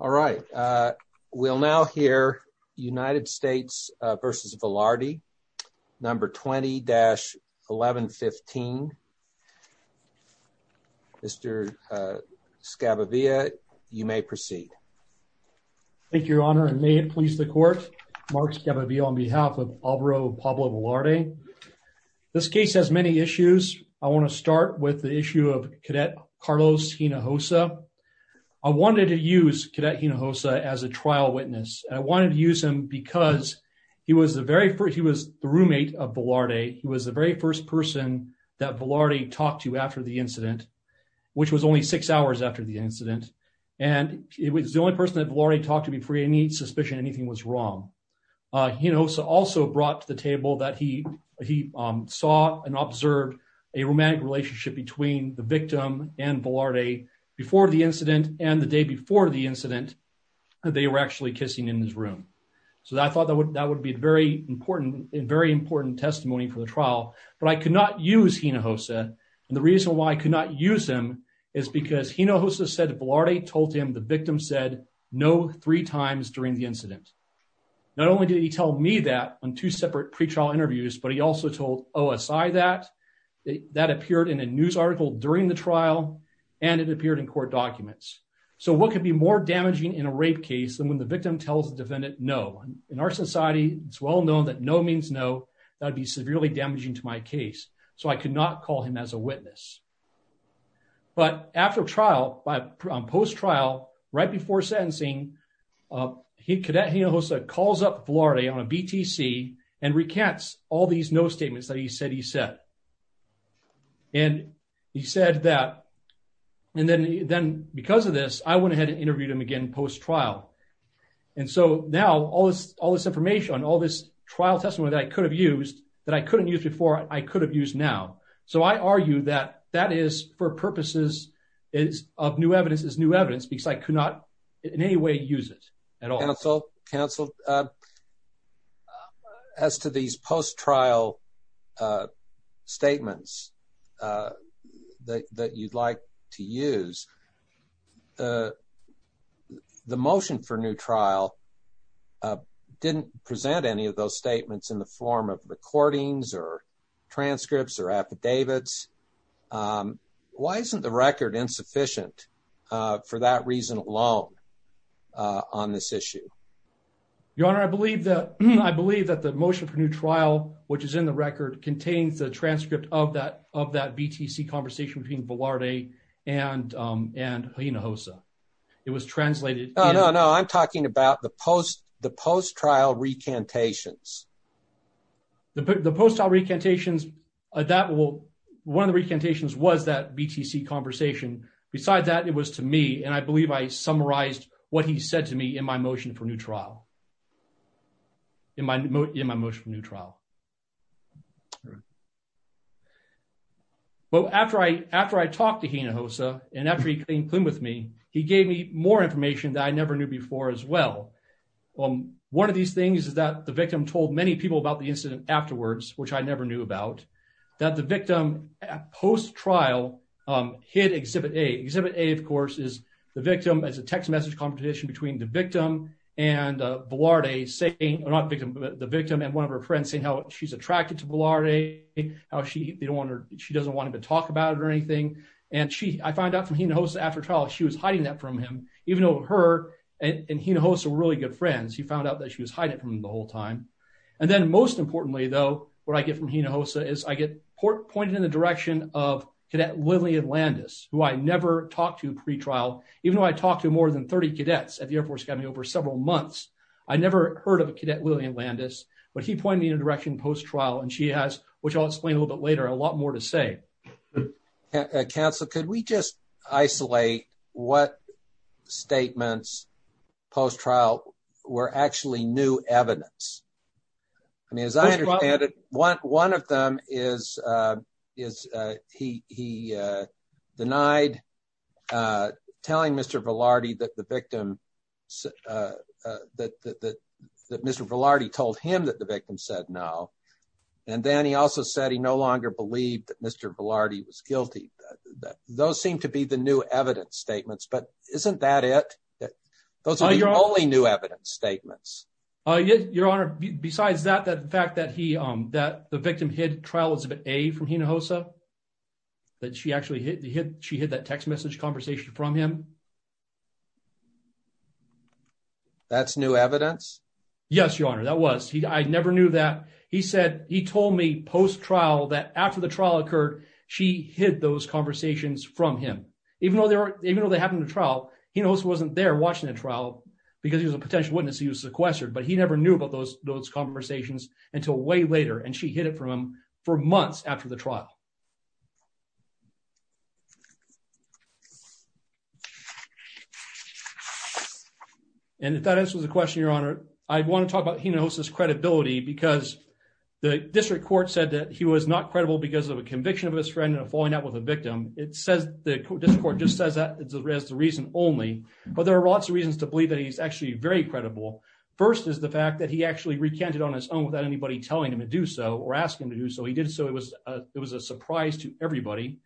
All right, we'll now hear United States v. Velarde, number 20-1115. Mr. Scabavia, you may proceed. Thank you, your honor, and may it please the court. Mark Scabavia on behalf of Alvaro Pablo Velarde. This case has many issues. I want to start with issue of Cadet Carlos Hinojosa. I wanted to use Cadet Hinojosa as a trial witness. I wanted to use him because he was the roommate of Velarde. He was the very first person that Velarde talked to after the incident, which was only six hours after the incident, and he was the only person that Velarde talked to before any suspicion anything was wrong. Hinojosa also brought to table that he saw and observed a romantic relationship between the victim and Velarde before the incident, and the day before the incident, they were actually kissing in his room. So I thought that would be a very important testimony for the trial, but I could not use Hinojosa, and the reason why I could not use him is because Hinojosa said Velarde told him the victim said no three times during the incident. Not only did he tell me that in two separate pre-trial interviews, but he also told OSI that that appeared in a news article during the trial, and it appeared in court documents. So what could be more damaging in a rape case than when the victim tells the defendant no? In our society, it's well known that no means no. That would be severely damaging to my case, so I could not call him as a witness. But after trial, on post-trial, right before sentencing, Cadet Hinojosa calls up Velarde on BTC and recants all these no statements that he said he said. And he said that, and then because of this, I went ahead and interviewed him again post-trial. And so now, all this information, all this trial testimony that I could have used, that I couldn't use before, I could have used now. So I argue that that is, for purposes of new evidence, is new evidence, because I could not in any way use it at all. Counsel, as to these post-trial statements that you'd like to use, the motion for new trial didn't present any of those statements in the form of recordings or transcripts or affidavits. Why isn't the record insufficient for that reason alone? On this issue. Your Honor, I believe that the motion for new trial, which is in the record, contains the transcript of that BTC conversation between Velarde and Hinojosa. It was translated. No, no, no. I'm talking about the post-trial recantations. The post-trial recantations, one of the recantations was that BTC conversation. Beside that, it was to me, and I believe I summarized what he said to me in my motion for new trial. In my motion for new trial. But after I talked to Hinojosa, and after he came clean with me, he gave me more information that I never knew before as well. One of these things is that the victim told many people about the incident afterwards, which I never knew about, that the Exhibit A, of course, is the victim. It's a text message competition between the victim and Velarde saying, not the victim, but the victim and one of her friends saying how she's attracted to Velarde. How she doesn't want him to talk about it or anything. I found out from Hinojosa after trial, she was hiding that from him, even though her and Hinojosa were really good friends. He found out that she was hiding it from him the whole time. And then most importantly though, what I get from Hinojosa is I get pointed in the direction of Cadet Lily Atlantis, who I never talked to pre-trial, even though I talked to more than 30 cadets at the Air Force Academy over several months. I never heard of a Cadet Lily Atlantis, but he pointed me in a direction post-trial and she has, which I'll explain a little bit later, a lot more to say. Counsel, could we just isolate what statements post-trial were actually new evidence? I mean, as I understand it, one of them is he denied telling Mr. Velarde that Mr. Velarde told him that the victim said no. And then he also said he no longer believed that Mr. Velarde was guilty. Those seem to be the new evidence statements, but isn't that it? Those are the only new evidence statements. Your Honor, besides that, the fact that the victim hid trial exhibit A from Hinojosa, that she actually hid that text message conversation from him. That's new evidence? Yes, Your Honor, that was. I never knew that. He said he told me post-trial that after the trial occurred, she hid those conversations from him. Even though they happened to trial, Hinojosa wasn't there watching the trial because he was a potential witness. He was sequestered, but he never knew about those conversations until way later, and she hid it from him for months after the trial. And if that answers the question, Your Honor, I want to talk about Hinojosa's credibility because the district court said that he was not credible because of a conviction of his friend and of falling out with a victim. It says, the district court just says that as the reason only, but there are lots of reasons to believe that he's actually very credible. First is the fact that he actually recanted on his own without anybody telling him to do so or asking him to do so. He did so. It was a surprise to everybody,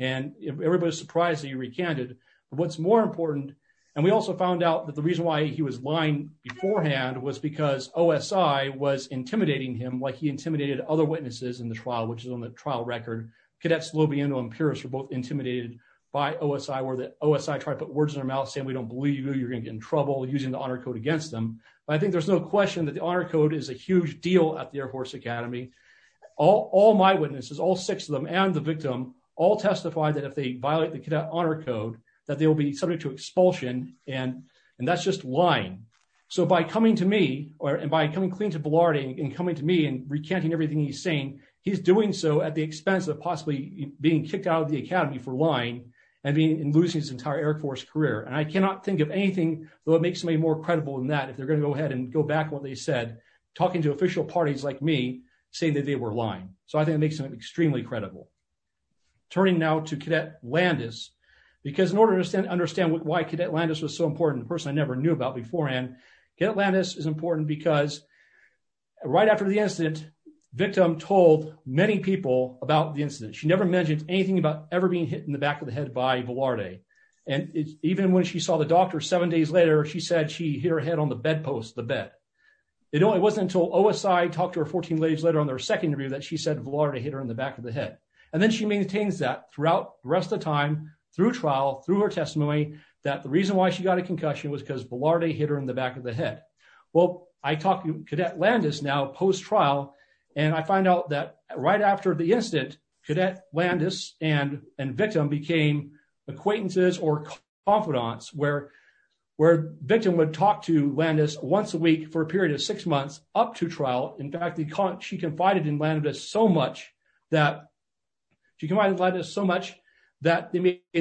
and everybody was surprised that he recanted. But what's more important, and we also found out that the reason why he was lying beforehand was because OSI was intimidating him like he intimidated other witnesses in the trial, which is on the trial record. Cadets Lobiendo and Pierce were both OSI tried to put words in their mouth saying, we don't believe you, you're going to get in trouble using the honor code against them. But I think there's no question that the honor code is a huge deal at the Air Force Academy. All my witnesses, all six of them and the victim all testified that if they violate the cadet honor code, that they will be subject to expulsion, and that's just lying. So by coming to me and by coming clean to Blarty and coming to me and recanting everything he's saying, he's doing so at the expense of possibly being kicked out of the academy for in losing his entire Air Force career. And I cannot think of anything that makes me more credible than that if they're going to go ahead and go back what they said, talking to official parties like me saying that they were lying. So I think it makes them extremely credible. Turning now to Cadet Landis, because in order to understand why Cadet Landis was so important, a person I never knew about beforehand, Cadet Landis is important because right after the incident, victim told many people about the incident. She never mentioned anything about ever being hit in the back of the head by Velarde. And even when she saw the doctor seven days later, she said she hit her head on the bedpost, the bed. It only wasn't until OSI talked to her 14 days later on their second interview that she said Velarde hit her in the back of the head. And then she maintains that throughout the rest of time, through trial, through her testimony, that the reason why she got a concussion was because Velarde hit her in the back of the head. Well, I talked to Cadet Landis now post-trial, and I find out that right after the incident, Cadet Landis and victim became acquaintances or confidants where victim would talk to Landis once a week for a period of six months up to trial. In fact, she confided in Landis so much that they made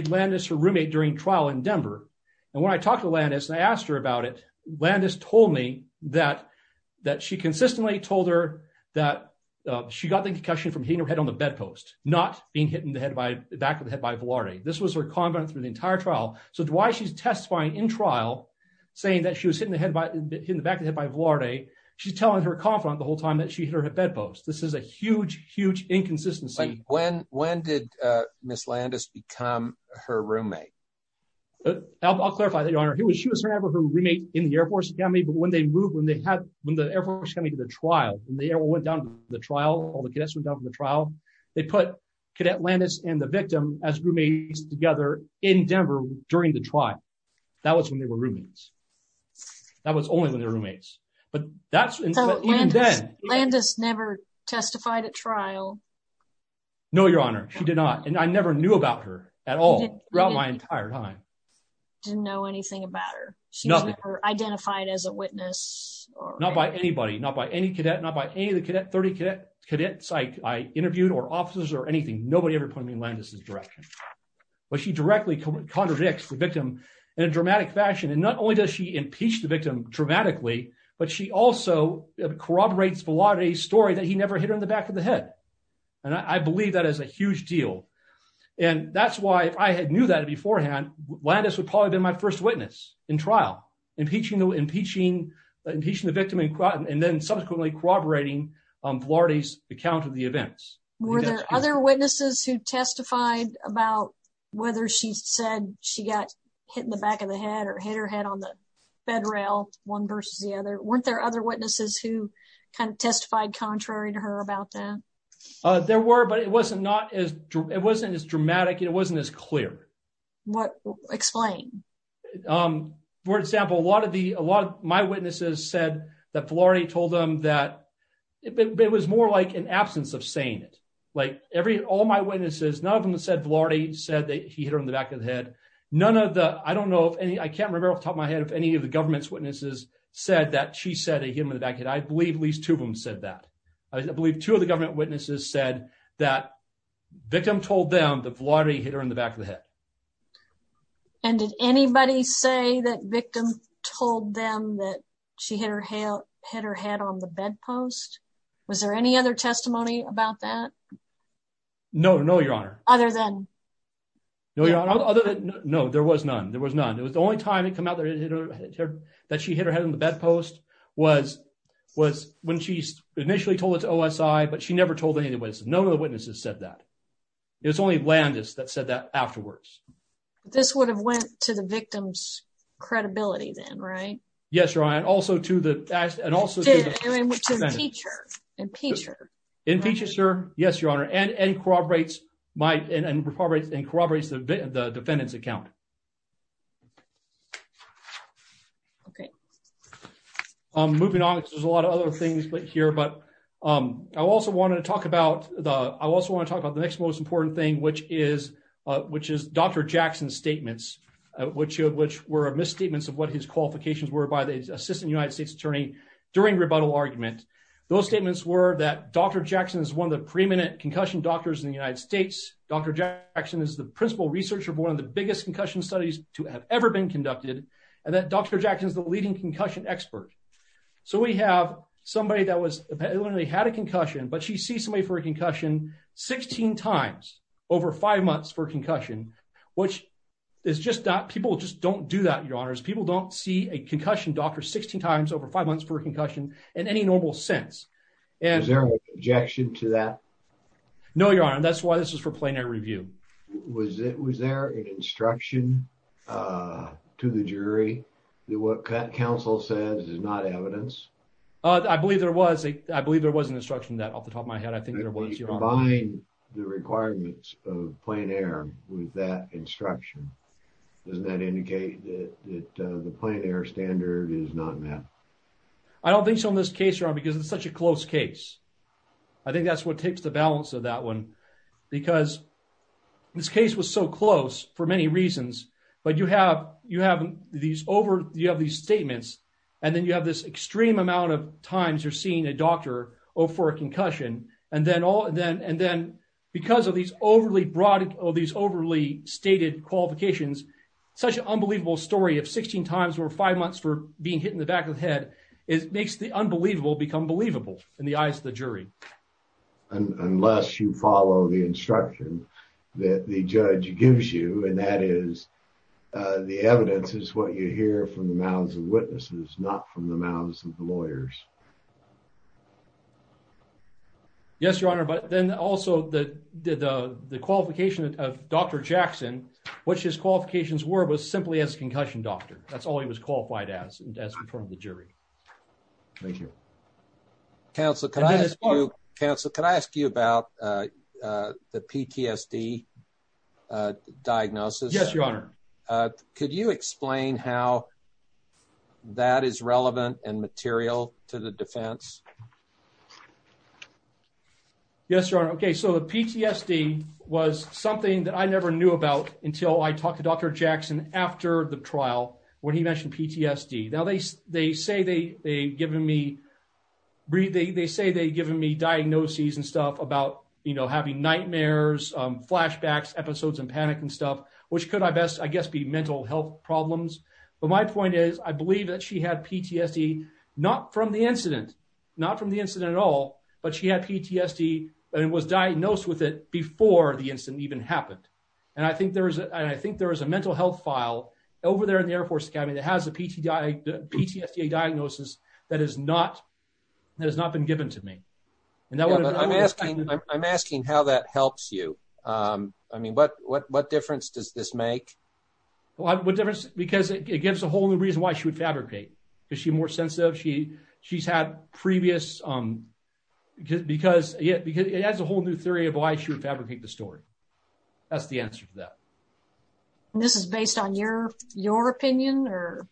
Landis her roommate during trial in Denver. And when I talked to Landis and I asked her about it, Landis told me that she consistently told her that she got the concussion from hitting her head on the bedpost, not being hit in the back of the head by Velarde. This was her confidant through the entire trial. So why she's testifying in trial, saying that she was hitting the back of the head by Velarde, she's telling her confidant the whole time that she hit her head bedpost. This is a huge, huge inconsistency. When did Ms. Landis become her roommate? I'll clarify that, Your Honor. She was her roommate in the Air Force Academy, but when they moved, when the Air Force Academy did the trial, when they went down to the trial, all the cadets went down for the trial, they put Cadet Landis and the victim as roommates together in Denver during the trial. That was when they were roommates. That was only when they were roommates. But that's, even then, Landis never testified at trial? No, Your Honor, she did not. And I never knew about her at all throughout my entire time. Didn't know anything about her? She was never identified as a witness? Not by anybody, not by any cadet, not by any of the cadet, cadets I interviewed or officers or anything. Nobody ever pointed me in Landis's direction. But she directly contradicts the victim in a dramatic fashion. And not only does she impeach the victim dramatically, but she also corroborates Velarde's story that he never hit her in the back of the head. And I believe that is a huge deal. And that's why if I had knew that beforehand, Landis would probably have been my first witness in trial, impeaching the victim and then subsequently corroborating Velarde's account of the events. Were there other witnesses who testified about whether she said she got hit in the back of the head or hit her head on the bed rail, one versus the other? Weren't there other witnesses who kind of testified contrary to her about that? There were, but it wasn't as dramatic, it wasn't as clear. Explain. For example, a lot of my witnesses said that Velarde told them that, it was more like an absence of saying it. Like every, all my witnesses, none of them said Velarde said that he hit her in the back of the head. None of the, I don't know if any, I can't remember off the top of my head if any of the government's witnesses said that she said he hit him in the back of the head. I believe at least two of them said that. I believe two of the government witnesses said that victim told them that Velarde hit her in the back of the head. And did anybody say that victim told them that she hit her head on the bedpost? Was there any other testimony about that? No, no, your honor. Other than? No, your honor, other than, no, there was none. There was none. It was the only time it came out that she hit her head on the bedpost was when she initially told it to OSI, but she never told any of the witnesses. None of the witnesses said that. It was only Landis that said that afterwards. This would have went to the victim's credibility then, right? Yes, your honor. And also to the, and also to the defendant. To the impeacher. Impeacher. Impeacher, sir. Yes, your honor. And corroborates my, and corroborates the defendant's account. Okay. Moving on. There's a lot of other things here, but I also wanted to talk about the, I also want to talk about the next most important thing, which is, which is Dr. Jackson's statements, which were misstatements of what his qualifications were by the assistant United States attorney during rebuttal argument. Those statements were that Dr. Jackson is one of the preeminent concussion doctors in the United States. Dr. Jackson is the principal researcher of one of the biggest concussion studies to have ever been conducted. And that Dr. Jackson is the leading concussion expert. So we have somebody that was, apparently had a concussion, but she sees somebody for a concussion 16 times over five months for concussion, which is just not, people just don't do that, your honors. People don't see a concussion doctor 16 times over five months for a concussion in any normal sense. Is there an objection to that? No, your honor. And that's why this was for plenary review. Was it, was there an instruction to the jury that what counsel says is not evidence? Oh, I believe there was a, I believe there was an instruction that off the top of my head. I think there was. Combine the requirements of plenary with that instruction. Doesn't that indicate that the plenary standard is not met? I don't think so in this case, your honor, because it's such a close case. I think that's what takes the balance of that one, because this case was so close for many reasons, but you have, you have these over, you have these statements and then you have this extreme amount of times you're seeing a doctor or for a concussion. And then all, and then, and then because of these overly broad or these overly stated qualifications, such an unbelievable story of 16 times over five months for being hit in the back of the head is makes the unbelievable become believable in the eyes of the jury. And unless you follow the instruction that the judge gives you, and that is the evidence is what you hear from the mouths of witnesses, not from the mouths of the lawyers. Yes, your honor. But then also the, the, the, the qualification of Dr. Jackson, which his qualifications were, was simply as a concussion doctor. That's all he was counsel. Could I ask you about the PTSD diagnosis? Yes, your honor. Could you explain how that is relevant and material to the defense? Yes, your honor. Okay. So the PTSD was something that I never knew about until I talked to Dr. Jackson after the trial, when he mentioned PTSD, now they, they say they, they given me breathing. They say they given me diagnoses and stuff about, you know, having nightmares, flashbacks, episodes, and panic and stuff, which could I best, I guess, be mental health problems. But my point is, I believe that she had PTSD, not from the incident, not from the incident at all, but she had PTSD and was diagnosed with it before the incident even happened. And I think there's a, I think there is a mental health file over there in the Air Force Academy that has a PT, PTSD diagnosis that has not, that has not been given to me. I'm asking, I'm asking how that helps you. I mean, what, what, what difference does this make? What difference? Because it gives a whole new reason why she would fabricate. Is she more sensitive? She, she's had previous because, because yeah, because it adds a whole new theory of why she would fabricate the story. That's the answer to that. And this is based on your, your opinion or.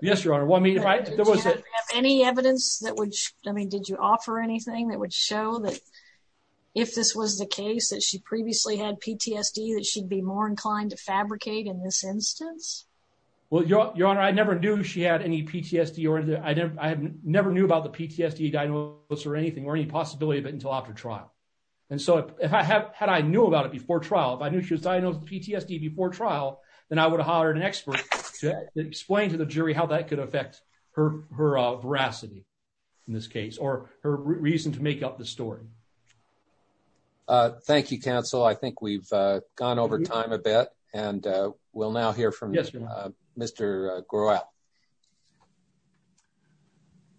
Yes, Your Honor. Well, I mean, if I, if there was any evidence that would, I mean, did you offer anything that would show that if this was the case that she previously had PTSD, that she'd be more inclined to fabricate in this instance? Well, Your Honor, I never knew she had any PTSD or anything. I never knew about PTSD diagnosis or anything, or any possibility of it until after trial. And so if I have, had, I knew about it before trial, if I knew she was diagnosed with PTSD before trial, then I would have hired an expert to explain to the jury how that could affect her, her veracity in this case, or her reason to make up the story. Thank you, counsel. I think we've gone over time a bit and we'll now hear from Mr. Grewal.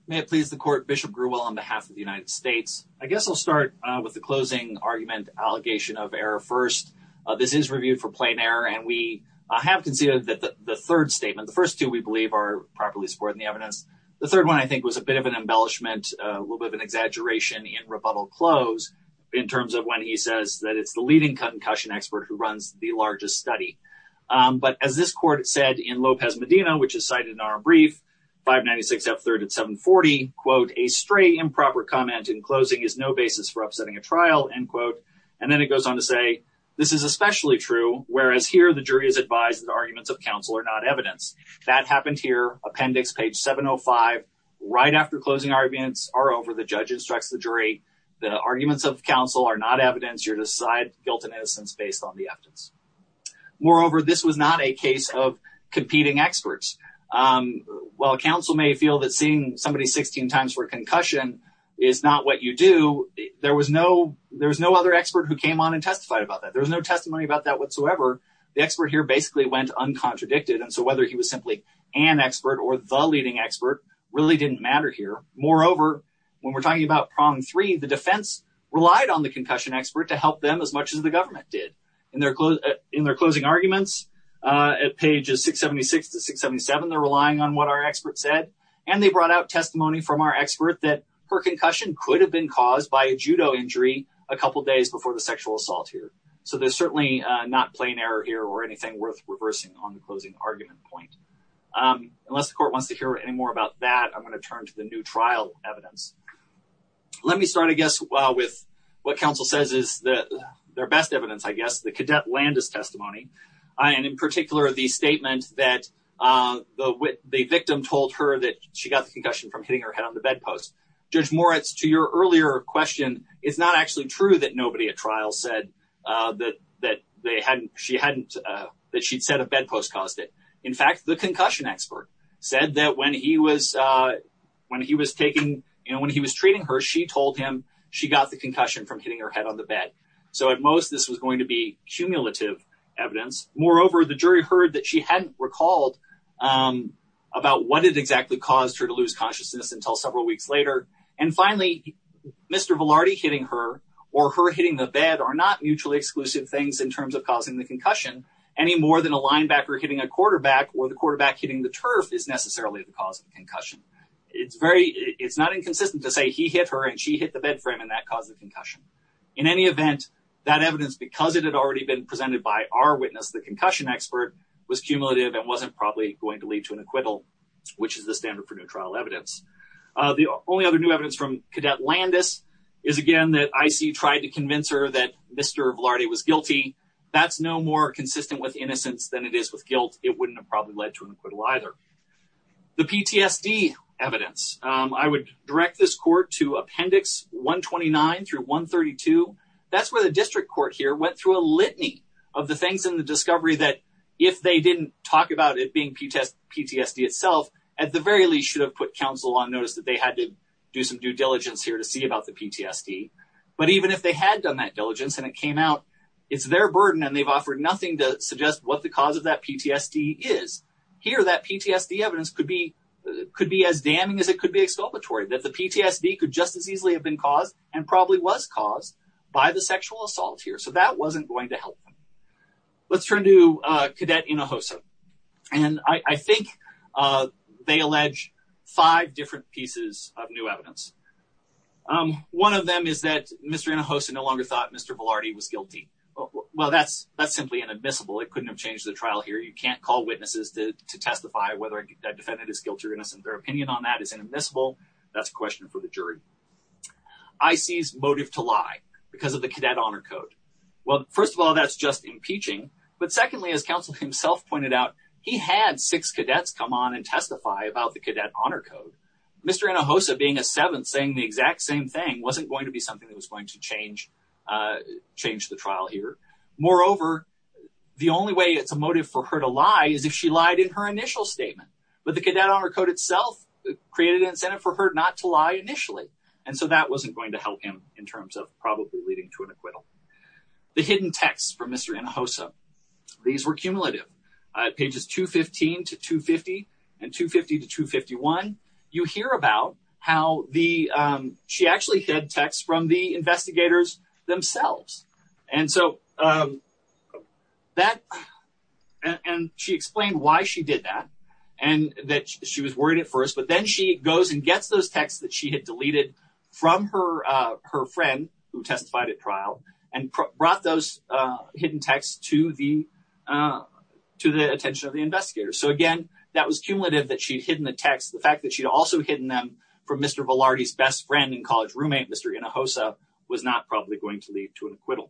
May it please the court, Bishop Grewal on behalf of the United States. I guess I'll start with the closing argument, allegation of error. First, this is reviewed for plain error. And we have considered that the third statement, the first two, we believe are properly supported in the evidence. The third one, I think was a bit of an embellishment, a little bit of an exaggeration in rebuttal close in terms of when he says that it's the leading concussion expert who runs the largest study. But as this court said in Lopez Medina, which is cited in our brief, 596 F3rd at 740, quote, a stray improper comment in closing is no basis for upsetting a trial, end quote. And then it goes on to say, this is especially true, whereas here the jury is advised that arguments of counsel are not evidence. That happened here, appendix page 705, right after closing arguments are over, the judge instructs the jury, the arguments of counsel are not evidence. You're to decide guilt and innocence based on the evidence. Moreover, this was not a case of competing experts. While counsel may feel that seeing somebody 16 times for a concussion is not what you do, there was no other expert who came on and testified about that. There was no testimony about that whatsoever. The expert here basically went uncontradicted. And so whether he was simply an expert or the leading expert really didn't matter here. Moreover, when as much as the government did in their closing arguments at pages 676 to 677, they're relying on what our expert said. And they brought out testimony from our expert that her concussion could have been caused by a judo injury a couple of days before the sexual assault here. So there's certainly not plain error here or anything worth reversing on the closing argument point. Unless the court wants to hear any more about that, I'm going to turn to the new trial evidence. Let me start, I guess, with what counsel says is that their best evidence, I guess, the cadet Landis testimony. And in particular, the statement that the victim told her that she got the concussion from hitting her head on the bedpost. Judge Moritz, to your earlier question, it's not actually true that nobody at trial said that she'd said a bedpost caused it. In fact, the concussion expert said that when he was treating her, she told him she got the concussion from hitting her head on the bed. So at most, this was going to be cumulative evidence. Moreover, the jury heard that she hadn't recalled about what it exactly caused her to lose consciousness until several weeks later. And finally, Mr. Velarde hitting her or her hitting the bed are not mutually exclusive things in terms of causing the concussion any more than a linebacker hitting a quarterback or the quarterback hitting the turf is necessarily the cause of concussion. It's not inconsistent to say he hit her and she hit the bed frame and that caused the concussion. In any event, that evidence, because it had already been presented by our witness, the concussion expert, was cumulative and wasn't probably going to lead to an acquittal, which is the standard for new trial evidence. The only other new evidence from cadet Landis is, again, that IC tried to convince her that Mr. Velarde was guilty. That's no more consistent with innocence than it is with guilt. It wouldn't have probably led to an acquittal either. The PTSD evidence, I would direct this court to appendix 129 through 132. That's where the district court here went through a litany of the things in the discovery that if they didn't talk about it being PTSD itself, at the very least should have put counsel on notice that they had to do some due diligence here to see about the PTSD. But even if they had done that diligence and it came out it's their burden and they've offered nothing to suggest what the cause of that PTSD is, here that PTSD evidence could be as damning as it could be exculpatory. That the PTSD could just as easily have been caused and probably was caused by the sexual assault here. So that wasn't going to help. Let's turn to cadet Hinojosa. And I think they allege five different pieces of new evidence. One of them is that Mr. Hinojosa no longer thought Mr. Velarde was guilty. Well, that's simply inadmissible. It couldn't have changed the trial here. You can't call witnesses to testify whether a defendant is guilty or innocent. Their opinion on that is inadmissible. That's a question for the jury. IC's motive to lie because of the cadet honor code. Well, first of all, that's just impeaching. But secondly, as counsel himself pointed out, he had six cadets come on and testify about the cadet honor code. Mr. Hinojosa being a seventh saying the exact same thing wasn't going to be something that was going to change the trial here. Moreover, the only way it's a motive for her to lie is if she lied in her initial statement. But the cadet honor code itself created an incentive for her not to lie initially. And so that wasn't going to help him in terms of probably leading to an acquittal. The hidden texts from Mr. Hinojosa. These were cumulative pages 215 to 250 and 250 to 251. You hear about how the she actually had texts from the investigators themselves. And so that and she explained why she did that and that she was worried at first. But then she goes and brought those hidden texts to the to the attention of the investigators. So, again, that was cumulative that she'd hidden the text. The fact that she'd also hidden them from Mr. Velarde's best friend and college roommate, Mr. Hinojosa, was not probably going to lead to an acquittal.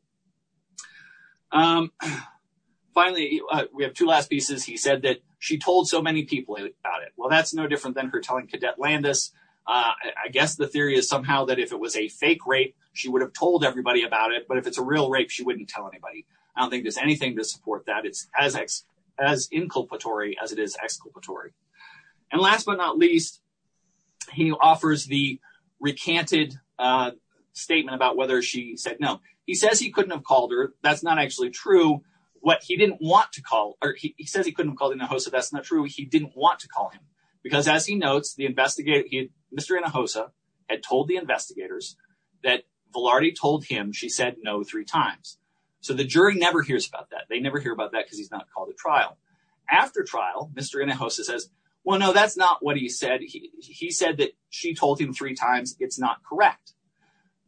Finally, we have two last pieces. He said that she told so many people about it. Well, that's no different than her telling Cadet Landis. I guess the theory is somehow that if it was a real rape, she wouldn't tell anybody. I don't think there's anything to support that. It's as inculpatory as it is exculpatory. And last but not least, he offers the recanted statement about whether she said no. He says he couldn't have called her. That's not actually true. What he didn't want to call or he says he couldn't have called Hinojosa. That's not true. He didn't want to call him because as he notes, Mr. Hinojosa had told the investigators that so the jury never hears about that. They never hear about that because he's not called a trial. After trial, Mr. Hinojosa says, well, no, that's not what he said. He said that she told him three times. It's not correct.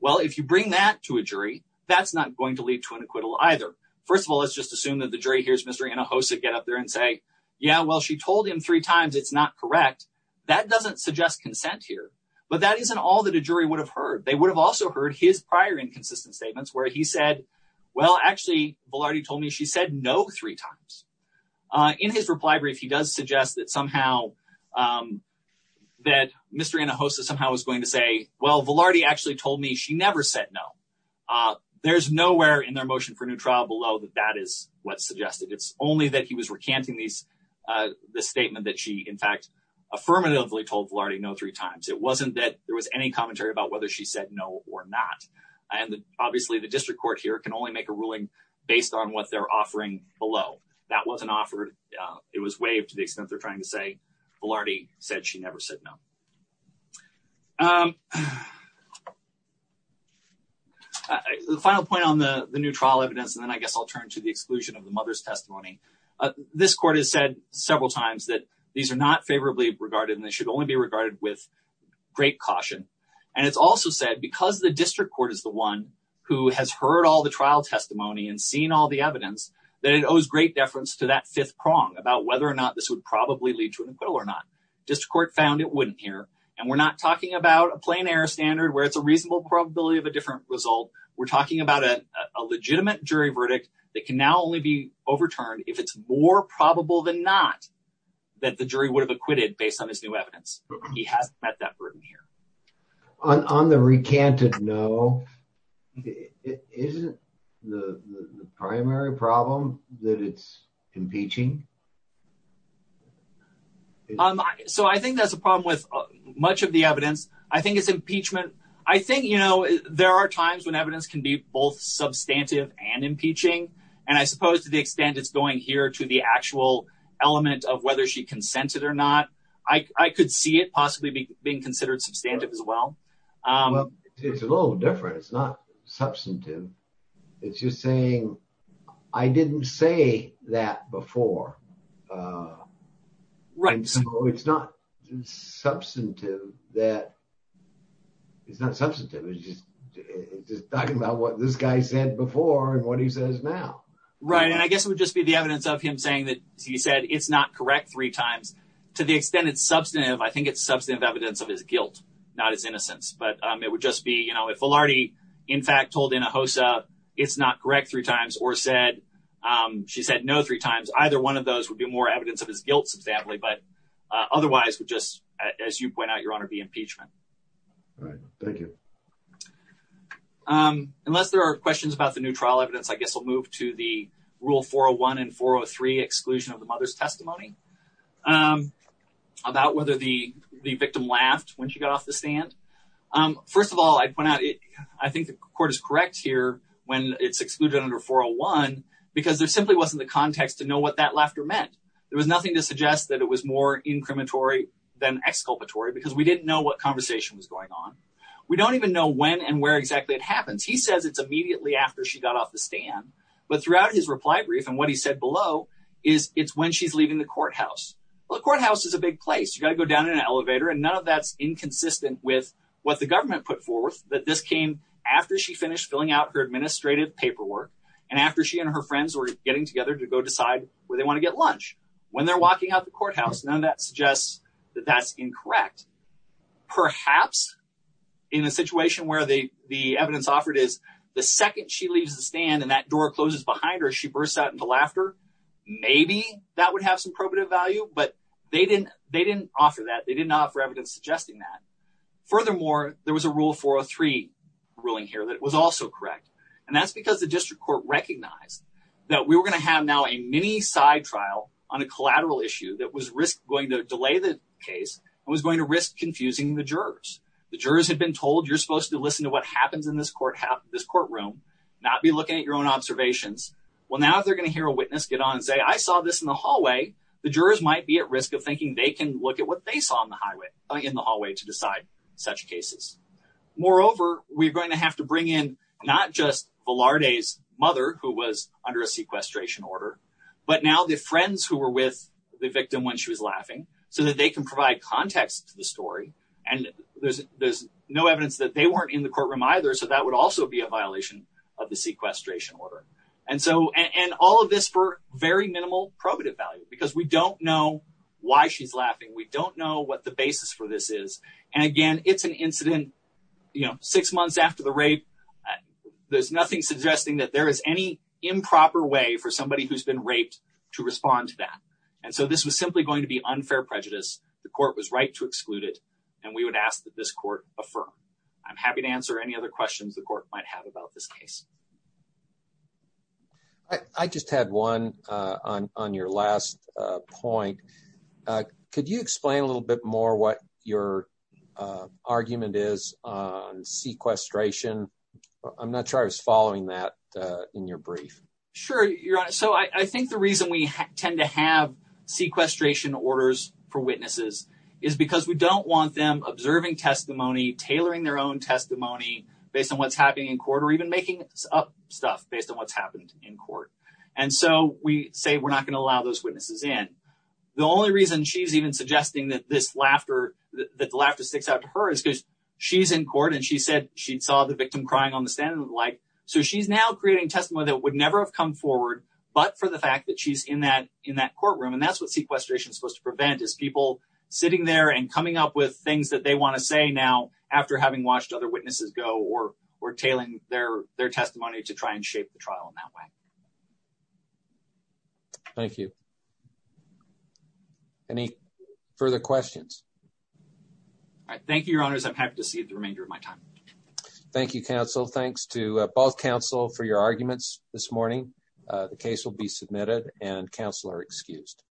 Well, if you bring that to a jury, that's not going to lead to an acquittal either. First of all, let's just assume that the jury hears Mr. Hinojosa get up there and say, yeah, well, she told him three times. It's not correct. That doesn't suggest consent here. But that isn't all that a jury would have heard. They would have also heard his prior inconsistent statements where he said, well, actually, Velarde told me she said no three times. In his reply brief, he does suggest that somehow that Mr. Hinojosa somehow was going to say, well, Velarde actually told me she never said no. There's nowhere in their motion for a new trial below that that is what's suggested. It's only that he was recanting this statement that she, in fact, affirmatively told Velarde no three times. It wasn't that there was any commentary about whether she said no or not. And obviously, the district court here can only make a ruling based on what they're offering below. That wasn't offered. It was waived to the extent they're trying to say Velarde said she never said no. The final point on the new trial evidence, and then I guess I'll turn to the exclusion of the mother's testimony. This court has said several times that these are not favorably regarded and they should only be regarded with great caution. And it's also said because the district court is the one who has heard all the trial testimony and seen all the evidence that it owes great deference to that fifth prong about whether or not this would probably lead to an acquittal or not. District court found it wouldn't here. And we're not talking about a plain air standard where it's a reasonable probability of a different result. We're talking about a legitimate jury verdict that can now only be overturned if it's more probable than not that the jury would have acquitted based on this new he has met that burden here on the recanted. No, it isn't the primary problem that it's impeaching. So I think that's a problem with much of the evidence. I think it's impeachment. I think, you know, there are times when evidence can be both substantive and impeaching. And I suppose to the extent it's going here to the actual element of whether she consented or not, I could see it possibly being considered substantive as well. It's a little different. It's not substantive. It's just saying I didn't say that before. Right. So it's not substantive that it's not substantive. It's just talking about what this guy said before and what he says now. Right. And I guess it would just be the evidence of him saying that he said it's not correct three times to the extent it's substantive. I think it's substantive evidence of his guilt, not his innocence. But it would just be, you know, if already, in fact, told in a host, it's not correct three times or said she said no three times, either one of those would be more evidence of his guilt. But otherwise, just as you point out, your honor, the impeachment. All right. Thank you. Unless there are questions about the trial evidence, I guess we'll move to the rule 401 and 403 exclusion of the mother's testimony about whether the victim laughed when she got off the stand. First of all, I'd point out, I think the court is correct here when it's excluded under 401 because there simply wasn't the context to know what that laughter meant. There was nothing to suggest that it was more incriminatory than exculpatory because we didn't know what conversation was going on. We don't even know when and where exactly it happens. He says it's immediately after she got off the stand. But throughout his reply brief and what he said below is it's when she's leaving the courthouse. The courthouse is a big place. You got to go down in an elevator. And none of that's inconsistent with what the government put forth that this came after she finished filling out her administrative paperwork and after she and her friends were getting together to go decide where they want to get lunch when they're walking out the courthouse. None of that suggests that that's incorrect. Perhaps in a situation where the the evidence offered is the second she leaves the stand and that door closes behind her, she bursts out into laughter. Maybe that would have some probative value, but they didn't they didn't offer that. They didn't offer evidence suggesting that. Furthermore, there was a rule for a three ruling here that was also correct. And that's because the district court recognized that we were going to have now a mini side trial on a collateral issue that was risk going to delay the case and was going to risk confusing the jurors. The jurors had been told you're supposed to listen to what happens in this courthouse, this courtroom, not be looking at your own observations. Well, now they're going to hear a witness get on and say, I saw this in the hallway. The jurors might be at risk of thinking they can look at what they saw on the highway in the hallway to decide such cases. Moreover, we're going to have to bring in not just Velarde's mother, who was under a sequestration order, but now the friends who were with the victim when she was laughing so that they can provide context to the story. And there's there's no evidence that they weren't in the courtroom either. So that would also be a violation of the sequestration order. And so and all of this for very minimal probative value, because we don't know why she's laughing. We don't know what the basis for this is. And again, it's an incident, you know, six months after the rape. There's nothing suggesting that there is any improper way for somebody who's been raped to respond to that. And so this was simply going to be unfair prejudice. The court was right to exclude it. And we would ask this court affirm. I'm happy to answer any other questions the court might have about this case. I just had one on your last point. Could you explain a little bit more what your argument is on sequestration? I'm not sure I was following that in your brief. Sure. So I think the reason we tend to have sequestration orders for witnesses is because we don't want them observing testimony, tailoring their own testimony based on what's happening in court or even making up stuff based on what's happened in court. And so we say we're not going to allow those witnesses in. The only reason she's even suggesting that this laughter that laughter sticks out to her is because she's in court and she said she saw the victim crying on the stand like so she's now creating testimony that would never have come forward. But for the fact that she's in that in that courtroom and that's what sequestration is supposed to prevent is people sitting there and coming up with things that they want to say now after having watched other witnesses go or or tailing their their testimony to try and shape the trial in that way. Thank you. Any further questions? All right. Thank you, your honors. I'm happy to see the remainder of my time. Thank you, counsel. Thanks to both counsel for your arguments this morning. The case will be submitted and counsel are excused.